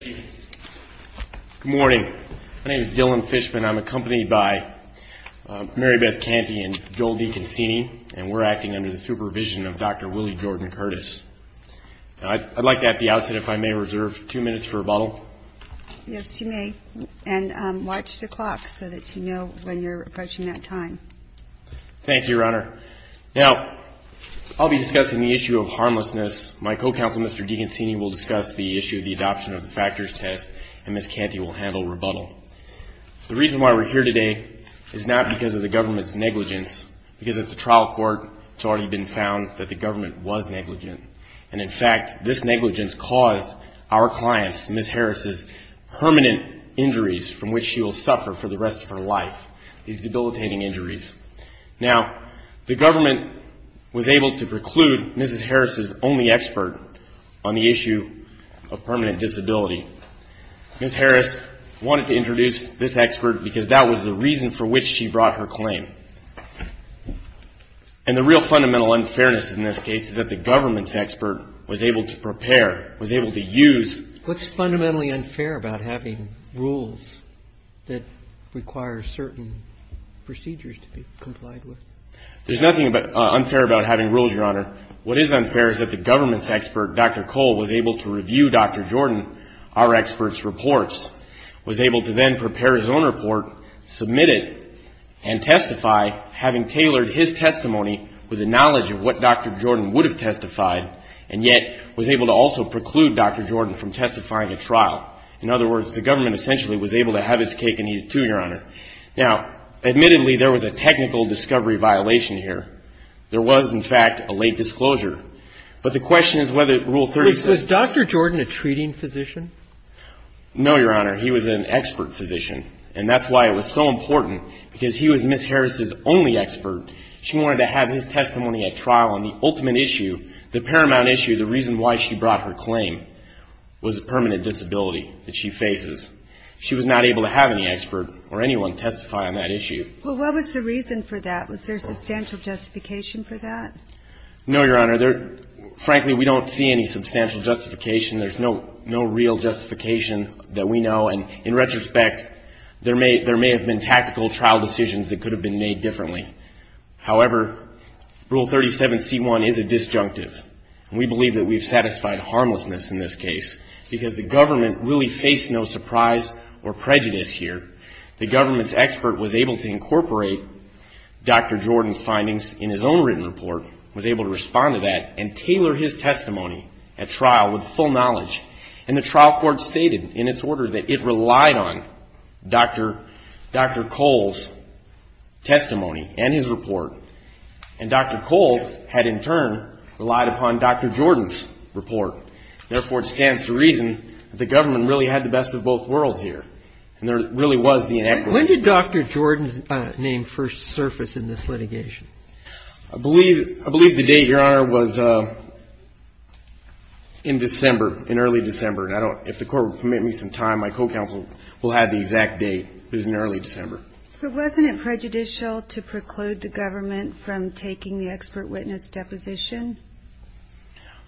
Good morning. My name is Dillon Fishman. I'm accompanied by Mary Beth Canty and Joel DeConcini and we're acting under the supervision of Dr. Willie Jordan Curtis. I'd like to at the outset if I may reserve two minutes for rebuttal. Yes, you may. And watch the clock so that you know when you're approaching that time. Thank you, Your Honor. Now, I'll be discussing the issue of harmlessness. My co-counsel, Mr. DeConcini, will discuss the issue of the adoption of the factors test and Ms. Canty will handle rebuttal. The reason why we're here today is not because of the government's negligence, because at the trial court it's already been found that the government was negligent. And in fact, this negligence caused our clients, Ms. Harris's, permanent injuries from which she will suffer for the rest of her life, these debilitating injuries. Now, the government was able to preclude Ms. Harris's only expert on the issue of permanent disability, Ms. Harris wanted to introduce this expert because that was the reason for which she brought her claim. And the real fundamental unfairness in this case is that the government's expert was able to prepare, was able to use What's fundamentally unfair about having rules that require certain procedures to be complied with? There's nothing unfair about having rules, Your Honor. What is unfair is that the government's expert, Dr. Cole, was able to review Dr. Jordan, our expert's reports, was able to then prepare his own report, submit it, and testify, having tailored his testimony with the knowledge of what Dr. Jordan would have testified, and yet was able to also preclude Dr. Jordan from testifying at trial. In other words, the government essentially was able to have its cake and eat it too, Your Honor. Now, admittedly, there was a technical discovery violation here. There was, in fact, a late disclosure. But the question is whether Rule 36... Was Dr. Jordan a treating physician? No, Your Honor. He was an expert physician. And that's why it was so important, because he was Ms. Harris's only expert. She wanted to have his testimony at trial on the ultimate issue, the paramount issue, the reason why she brought her claim, was the permanent disability that she faces. She was not able to have any expert or anyone testify on that issue. Well, what was the reason for that? Was there substantial justification for that? No, Your Honor. Frankly, we don't see any substantial justification. There's no real justification that we know. And in retrospect, there may have been tactical trial decisions that could have been made differently. However, Rule 37C1 is a disjunctive. We believe that we've satisfied harmlessness in this case, because the government really faced no surprise or prejudice here. The government's expert was able to incorporate Dr. Jordan's findings in his own written report, was able to respond to that, and tailor his testimony at trial with full knowledge. And the trial court stated in its order that it relied on Dr. Cole's testimony and his report. And Dr. Cole had in turn relied upon Dr. Jordan's report. Therefore, it stands to reason that the government really had the best of both worlds here. And there really was the inequity. When did Dr. Jordan's name first surface in this litigation? I believe the date, Your Honor, was in December, in early December. And if the court would permit me some time, my co-counsel will have the exact date. It was in early December. But wasn't it prejudicial to preclude the government from taking the expert witness deposition?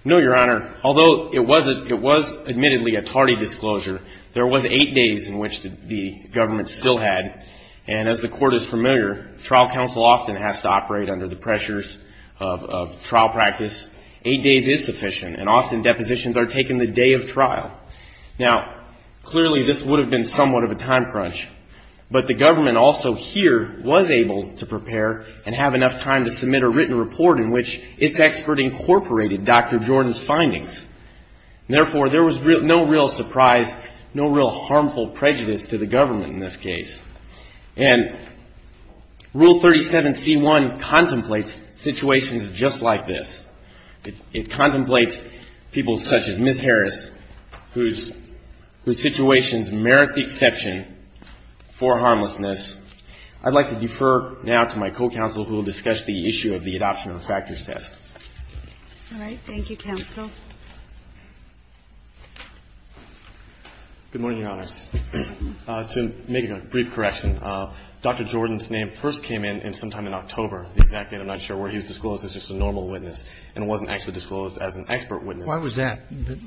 No, Your Honor. Although it was admittedly a tardy disclosure, there was eight days in which the government still had. And as the court is familiar, trial counsel often has to operate under the pressures of trial practice. Eight days is sufficient, and often depositions are taken the day of trial. Now, clearly this would have been somewhat of a time crunch. But the government also here was able to prepare and have enough time to submit a written report in which its expert incorporated Dr. Jordan's findings. Therefore, there was no real surprise, no real harmful prejudice to the government in this case. And Rule 37C1 contemplates situations just like this. It contemplates people such as Ms. Harris, whose situations merit the exception for harmlessness. I'd like to defer now to my co-counsel, who will discuss the issue of the adoption of the factors test. All right. Thank you, counsel. Good morning, Your Honors. To make a brief correction, Dr. Jordan's name first came in sometime in October, the exact date, I'm not sure, where he was disclosed as just a normal witness and wasn't actually disclosed as an expert witness. Why was that? That,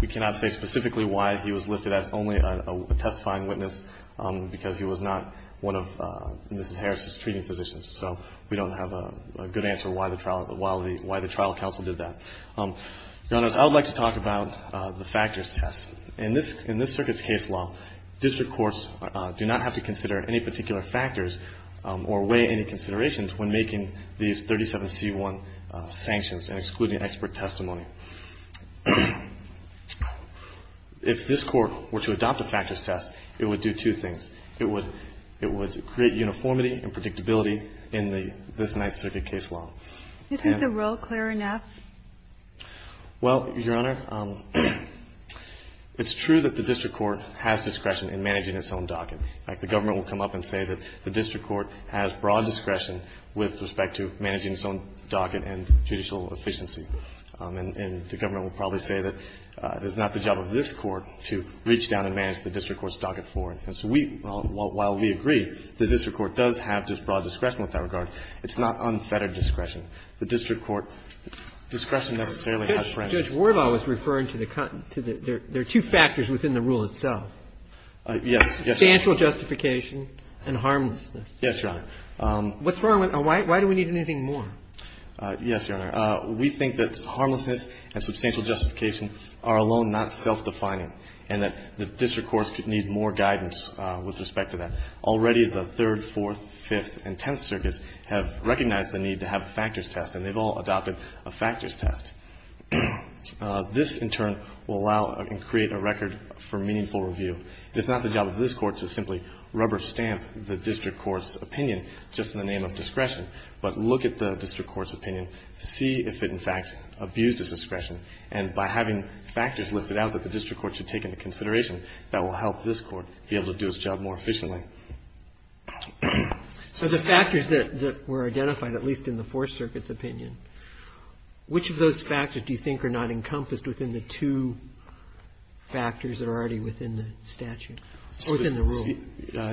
we cannot say specifically why he was listed as only a testifying witness, because he was not one of Ms. Harris's treating physicians. So we don't have a good answer why the trial counsel did that. Your Honors, I would like to talk about the factors test. In this circuit's case law, district courts do not have to consider any particular factors or weigh any considerations when making these 37C1 sanctions and excluding expert testimony. If this Court were to adopt a factors test, it would do two things. It would create uniformity and predictability in this Ninth Circuit case law. Isn't the rule clear enough? Well, Your Honor, it's true that the district court has discretion in managing its own docket. In fact, the government will come up and say that the district court has broad discretion with respect to managing its own docket and judicial efficiency. And the government will probably say that it's not the job of this Court to reach down and manage the district court's docket for it. While we agree the district court does have broad discretion with that regard, it's not unfettered discretion. The district court discretion necessarily has branches. Your Honor, Judge Warbaugh was referring to the – there are two factors within the rule itself. Yes. Substantial justification and harmlessness. Yes, Your Honor. What's wrong with – why do we need anything more? Yes, Your Honor. We think that harmlessness and substantial justification are alone not self-defining and that the district courts need more guidance with respect to that. Already the Third, Fourth, Fifth, and Tenth Circuits have recognized the need to have a factors test, and they've all adopted a factors test. This, in turn, will allow and create a record for meaningful review. It's not the job of this Court to simply rubber stamp the district court's opinion just in the name of discretion, but look at the district court's opinion, see if it, in fact, abused its discretion. And by having factors listed out that the district court should take into consideration, that will help this Court be able to do its job more efficiently. So the factors that were identified, at least in the Fourth Circuit's opinion, which of those factors do you think are not encompassed within the two factors that are already within the statute or within the rule?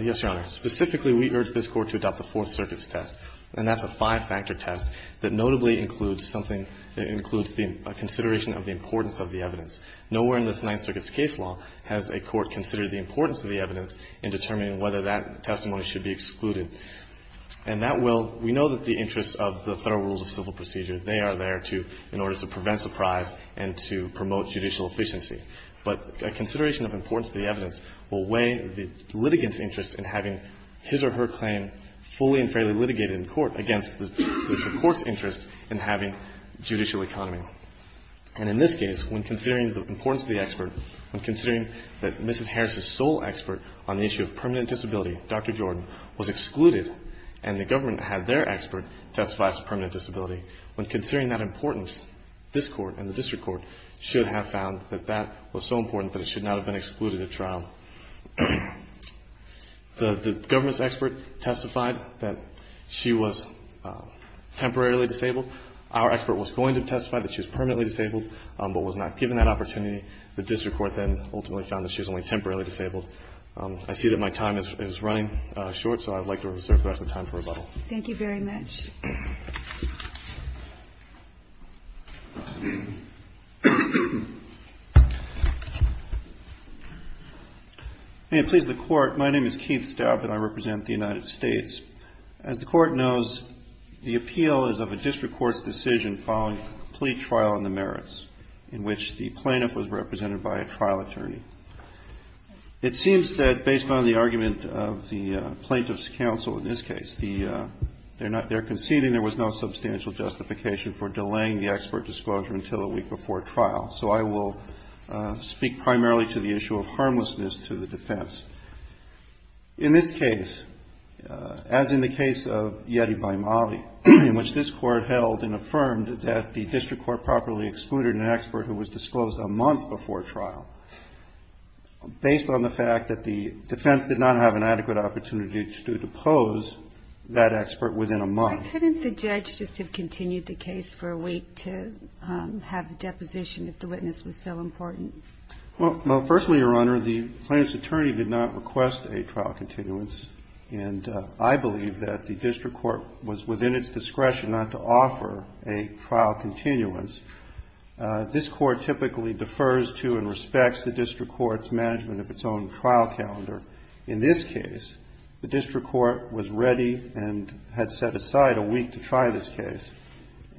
Yes, Your Honor. Specifically, we urge this Court to adopt the Fourth Circuit's test. And that's a five-factor test that notably includes something that includes the consideration of the importance of the evidence. Nowhere in this Ninth Circuit's case law has a court considered the importance of the evidence in determining whether that testimony should be excluded. And that will – we know that the interests of the Federal Rules of Civil Procedure, they are there to – in order to prevent surprise and to promote judicial efficiency. But a consideration of importance to the evidence will weigh the litigant's interest in having his or her claim fully and fairly litigated in court against the court's interest in having judicial economy. And in this case, when considering the importance of the expert, when considering that Mrs. Harris' sole expert on the issue of permanent disability, Dr. Jordan, was excluded and the government had their expert testify as a permanent disability, when considering that importance, this Court and the district court should have found that that was so important that it should not have been excluded at trial. The government's expert testified that she was temporarily disabled. Our expert was going to testify that she was permanently disabled, but was not given that opportunity. The district court then ultimately found that she was only temporarily disabled. I see that my time is running short, so I'd like to reserve the rest of the time for rebuttal. Thank you very much. May it please the Court. My name is Keith Staub, and I represent the United States. As the Court knows, the appeal is of a district court's decision following in the merits in which the plaintiff was represented by a trial attorney. It seems that based on the argument of the plaintiff's counsel in this case, they're conceding there was no substantial justification for delaying the expert disclosure until a week before trial. So I will speak primarily to the issue of harmlessness to the defense. In this case, as in the case of Yeti by Mali, in which this Court held and affirmed that the district court properly excluded an expert who was disclosed a month before trial, based on the fact that the defense did not have an adequate opportunity to depose that expert within a month. Why couldn't the judge just have continued the case for a week to have the deposition if the witness was so important? Well, firstly, Your Honor, the plaintiff's attorney did not request a trial continuance, and I believe that the district court was within its discretion not to offer a trial continuance. This Court typically defers to and respects the district court's management of its own trial calendar. In this case, the district court was ready and had set aside a week to try this case,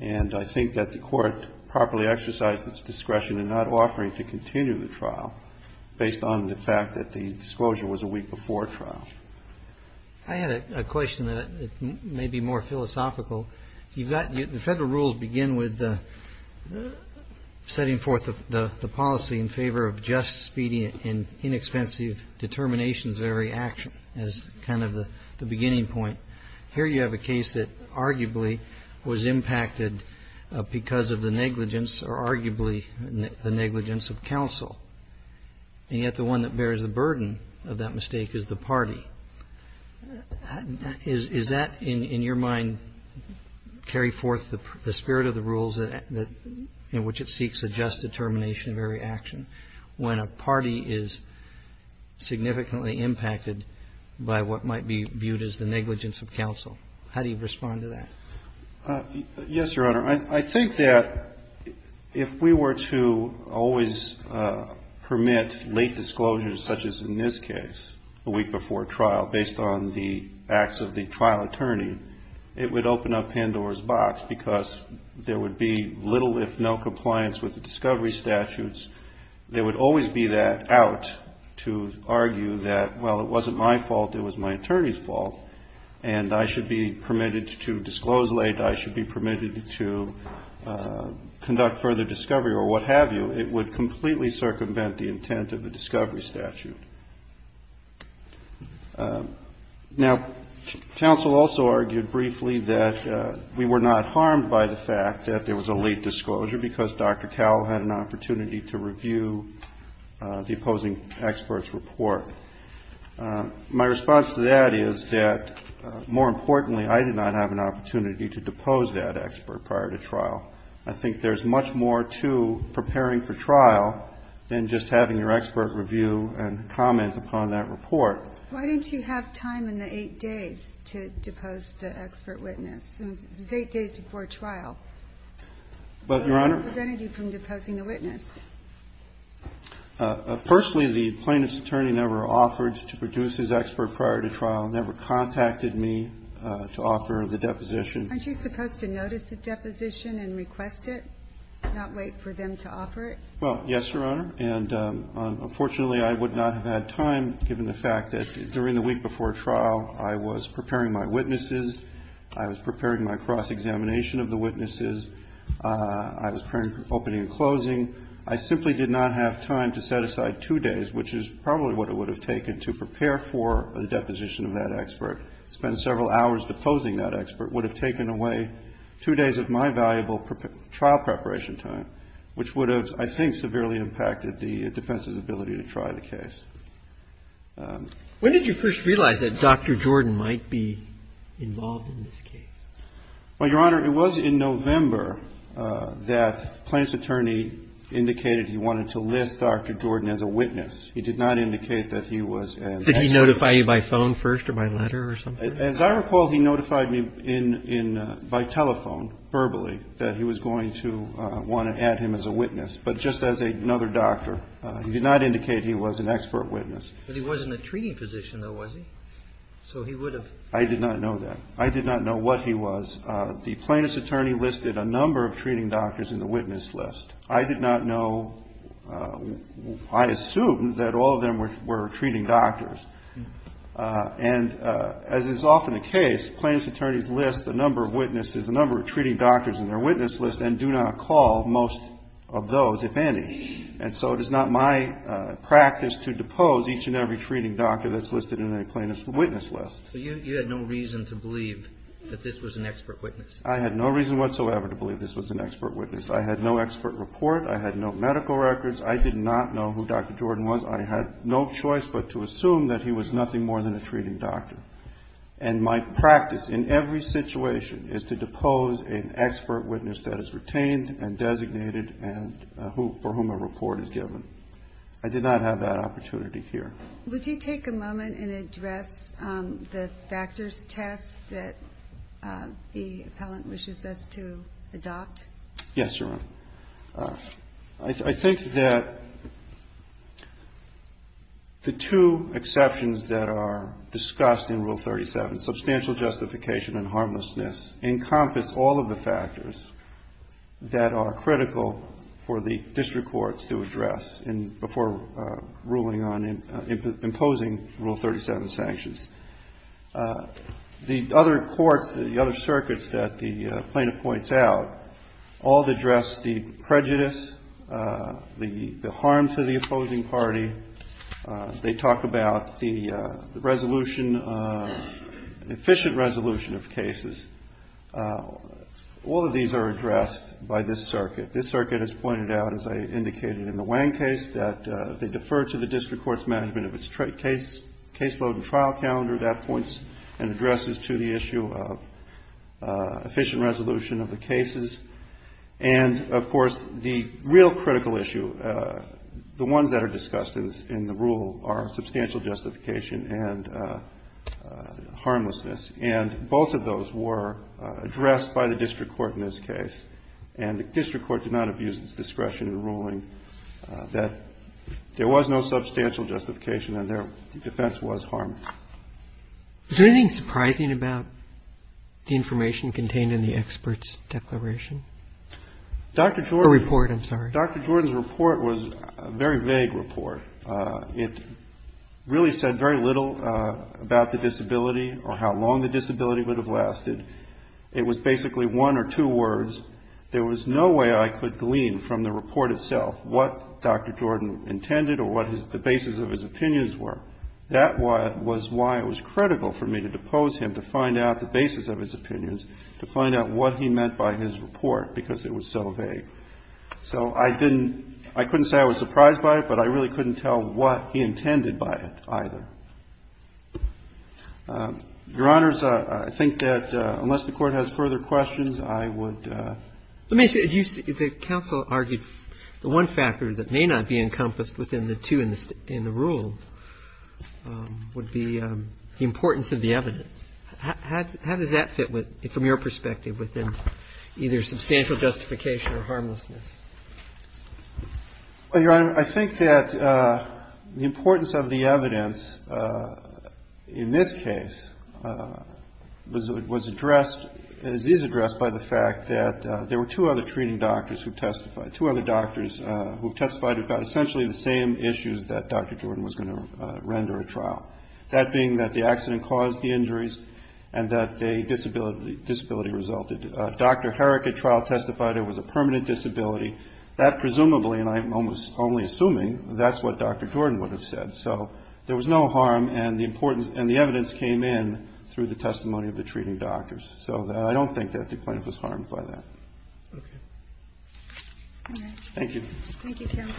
and I think that the court properly exercised its discretion in not offering to continue the trial based on the fact that the disclosure was a week before trial. I had a question that may be more philosophical. The Federal rules begin with setting forth the policy in favor of just, speedy, and inexpensive determinations of every action as kind of the beginning point. Here you have a case that arguably was impacted because of the negligence or arguably the negligence of counsel, and yet the one that bears the burden of that mistake is the party. Is that, in your mind, carry forth the spirit of the rules in which it seeks a just determination of every action when a party is significantly impacted by what might be viewed as the negligence of counsel? How do you respond to that? Yes, Your Honor. I think that if we were to always permit late disclosures, such as in this case, a week before trial, based on the acts of the trial attorney, it would open up Pandora's Box because there would be little if no compliance with the discovery statutes. There would always be that out to argue that, well, it wasn't my fault. It was my attorney's fault, and I should be permitted to disclose late. I should be permitted to conduct further discovery or what have you. It would completely circumvent the intent of the discovery statute. Now, counsel also argued briefly that we were not harmed by the fact that there was a late disclosure because Dr. Cowell had an opportunity to review the opposing expert's report. My response to that is that, more importantly, I did not have an opportunity to depose that expert prior to trial. I think there is much more to preparing for trial than just having your expert review and comment upon that report. Why didn't you have time in the 8 days to depose the expert witness? It was 8 days before trial. Your Honor? What prevented you from deposing the witness? Firstly, the plaintiff's attorney never offered to produce his expert prior to trial, never contacted me to offer the deposition. Aren't you supposed to notice the deposition and request it, not wait for them to offer it? Well, yes, Your Honor. And unfortunately, I would not have had time, given the fact that during the week before trial, I was preparing my witnesses, I was preparing my cross-examination of the witnesses, I was preparing for opening and closing. I simply did not have time to set aside 2 days, which is probably what it would have taken to prepare for the deposition of that expert. Spend several hours deposing that expert would have taken away 2 days of my valuable trial preparation time, which would have, I think, severely impacted the defense's ability to try the case. When did you first realize that Dr. Jordan might be involved in this case? Well, Your Honor, it was in November that the plaintiff's attorney indicated he wanted to list Dr. Jordan as a witness. He did not indicate that he was an expert. Did he notify you by phone first or by letter or something? As I recall, he notified me in by telephone, verbally, that he was going to want to add him as a witness. But just as another doctor, he did not indicate he was an expert witness. But he was in a treating position, though, was he? So he would have been. I did not know that. I did not know what he was. The plaintiff's attorney listed a number of treating doctors in the witness list. I did not know. I assumed that all of them were treating doctors. And as is often the case, plaintiff's attorneys list a number of witnesses, a number of treating doctors in their witness list, and do not call most of those, if any. And so it is not my practice to depose each and every treating doctor that's listed in a plaintiff's witness list. So you had no reason to believe that this was an expert witness? I had no reason whatsoever to believe this was an expert witness. I had no expert report. I had no medical records. I did not know who Dr. Jordan was. I had no choice but to assume that he was nothing more than a treating doctor. And my practice in every situation is to depose an expert witness that is retained and designated and for whom a report is given. I did not have that opportunity here. Would you take a moment and address the factors test that the appellant wishes us to adopt? Yes, Your Honor. I think that the two exceptions that are discussed in Rule 37, substantial justification and harmlessness, encompass all of the factors that are critical for the district courts to address before ruling on imposing Rule 37 sanctions. The other courts, the other circuits that the plaintiff points out, all address the prejudice, the harm to the opposing party. They talk about the resolution, efficient resolution of cases. All of these are addressed by this circuit. This circuit has pointed out, as I indicated in the Wang case, that they defer to the district court's management of its case load and trial calendar. That points and addresses to the issue of efficient resolution of the cases. And, of course, the real critical issue, the ones that are discussed in the rule are substantial justification and harmlessness. And both of those were addressed by the district court in this case. And the district court did not abuse its discretion in ruling that there was no substantial justification and their defense was harmless. Is there anything surprising about the information contained in the expert's declaration? Or report, I'm sorry. Dr. Jordan's report was a very vague report. It really said very little about the disability or how long the disability would have lasted. It was basically one or two words. There was no way I could glean from the report itself what Dr. Jordan intended or what the basis of his opinions were. That was why it was critical for me to depose him, to find out the basis of his opinions, to find out what he meant by his report, because it was so vague. So I didn't, I couldn't say I was surprised by it, but I really couldn't tell what he intended by it either. Your Honors, I think that unless the Court has further questions, I would ---- Let me say, the counsel argued the one factor that may not be encompassed within the two in the rule would be the importance of the evidence. How does that fit with, from your perspective, within either substantial justification or harmlessness? Well, Your Honor, I think that the importance of the evidence in this case was addressed, is addressed by the fact that there were two other treating doctors who testified, two other doctors who testified about essentially the same issues that Dr. Jordan was going to render a trial, that being that the accident caused the injuries and that the disability resulted. Dr. Herrick at trial testified it was a permanent disability. That presumably, and I'm only assuming, that's what Dr. Jordan would have said. So there was no harm, and the evidence came in through the testimony of the treating doctors. So I don't think that the plaintiff was harmed by that. Thank you. Thank you, counsel.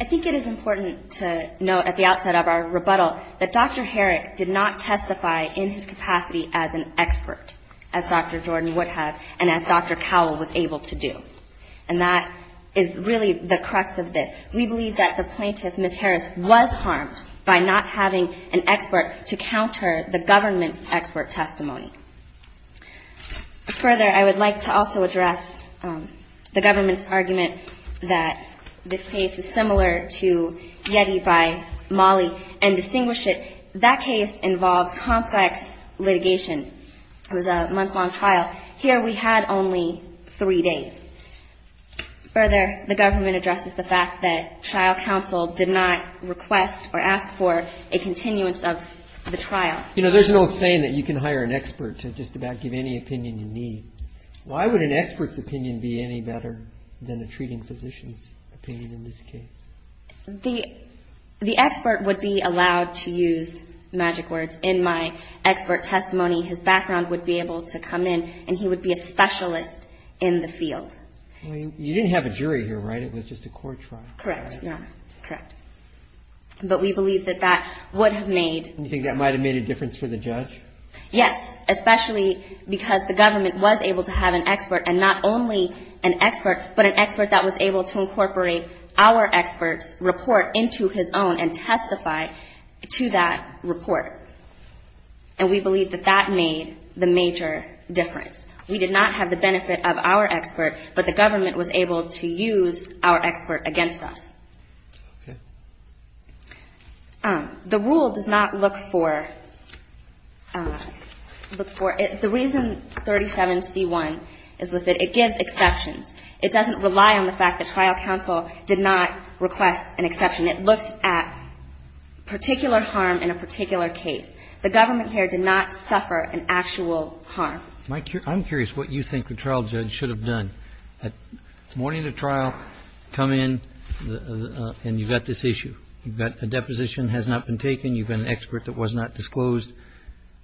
I think it is important to note at the outset of our rebuttal that Dr. Herrick did not testify in his capacity as an expert, as Dr. Jordan would have and as Dr. Cowell was able to do. And that is really the crux of this. We believe that the plaintiff, Ms. Harris, was harmed by not having an expert to counter the government's expert testimony. Further, I would like to also address the government's argument that this case is similar to Yeti by Mollie and distinguish it. That case involved complex litigation. It was a month-long trial. But here we had only three days. Further, the government addresses the fact that trial counsel did not request or ask for a continuance of the trial. You know, there's an old saying that you can hire an expert to just about give any opinion you need. Why would an expert's opinion be any better than a treating physician's opinion in this case? The expert would be allowed to use magic words. In my expert testimony, his background would be able to come in, and he would be a specialist in the field. Well, you didn't have a jury here, right? It was just a court trial. Correct. Yeah. Correct. But we believe that that would have made You think that might have made a difference for the judge? Yes, especially because the government was able to have an expert, and not only an expert, but an expert that was able to incorporate our expert's report into his own and testify to that report. And we believe that that made the major difference. We did not have the benefit of our expert, but the government was able to use our expert against us. Okay. The rule does not look for the reason 37C1 is listed. It gives exceptions. It doesn't rely on the fact that trial counsel did not request an exception. It looks at particular harm in a particular case. The government here did not suffer an actual harm. I'm curious what you think the trial judge should have done. Morning of trial, come in, and you've got this issue. You've got a deposition has not been taken. You've got an expert that was not disclosed.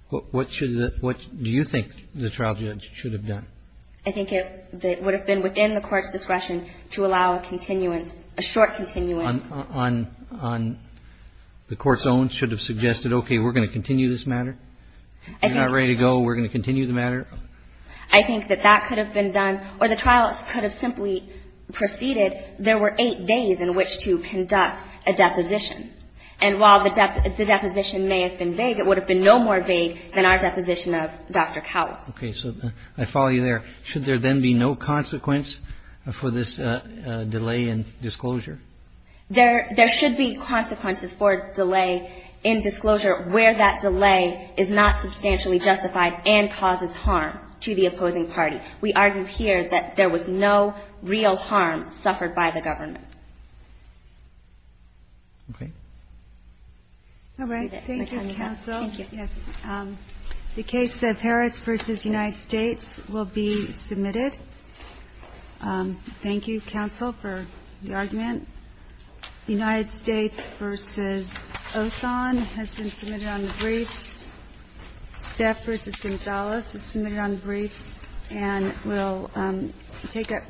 What do you think the trial judge should have done? I think it would have been within the Court's discretion to allow a continuance, a short continuance. On the Court's own should have suggested, okay, we're going to continue this matter? If you're not ready to go, we're going to continue the matter? I think that that could have been done. Or the trial could have simply proceeded. There were eight days in which to conduct a deposition. And while the deposition may have been vague, it would have been no more vague than our deposition of Dr. Cowell. Okay. So I follow you there. Should there then be no consequence for this delay in disclosure? There should be consequences for delay in disclosure where that delay is not substantially justified and causes harm to the opposing party. We argue here that there was no real harm suffered by the government. Okay. All right. Thank you, counsel. Thank you. Yes. The case of Harris v. United States will be submitted. Thank you, counsel, for the argument. United States v. Osan has been submitted on the briefs. Steph v. Gonzales is submitted on the briefs and will take up.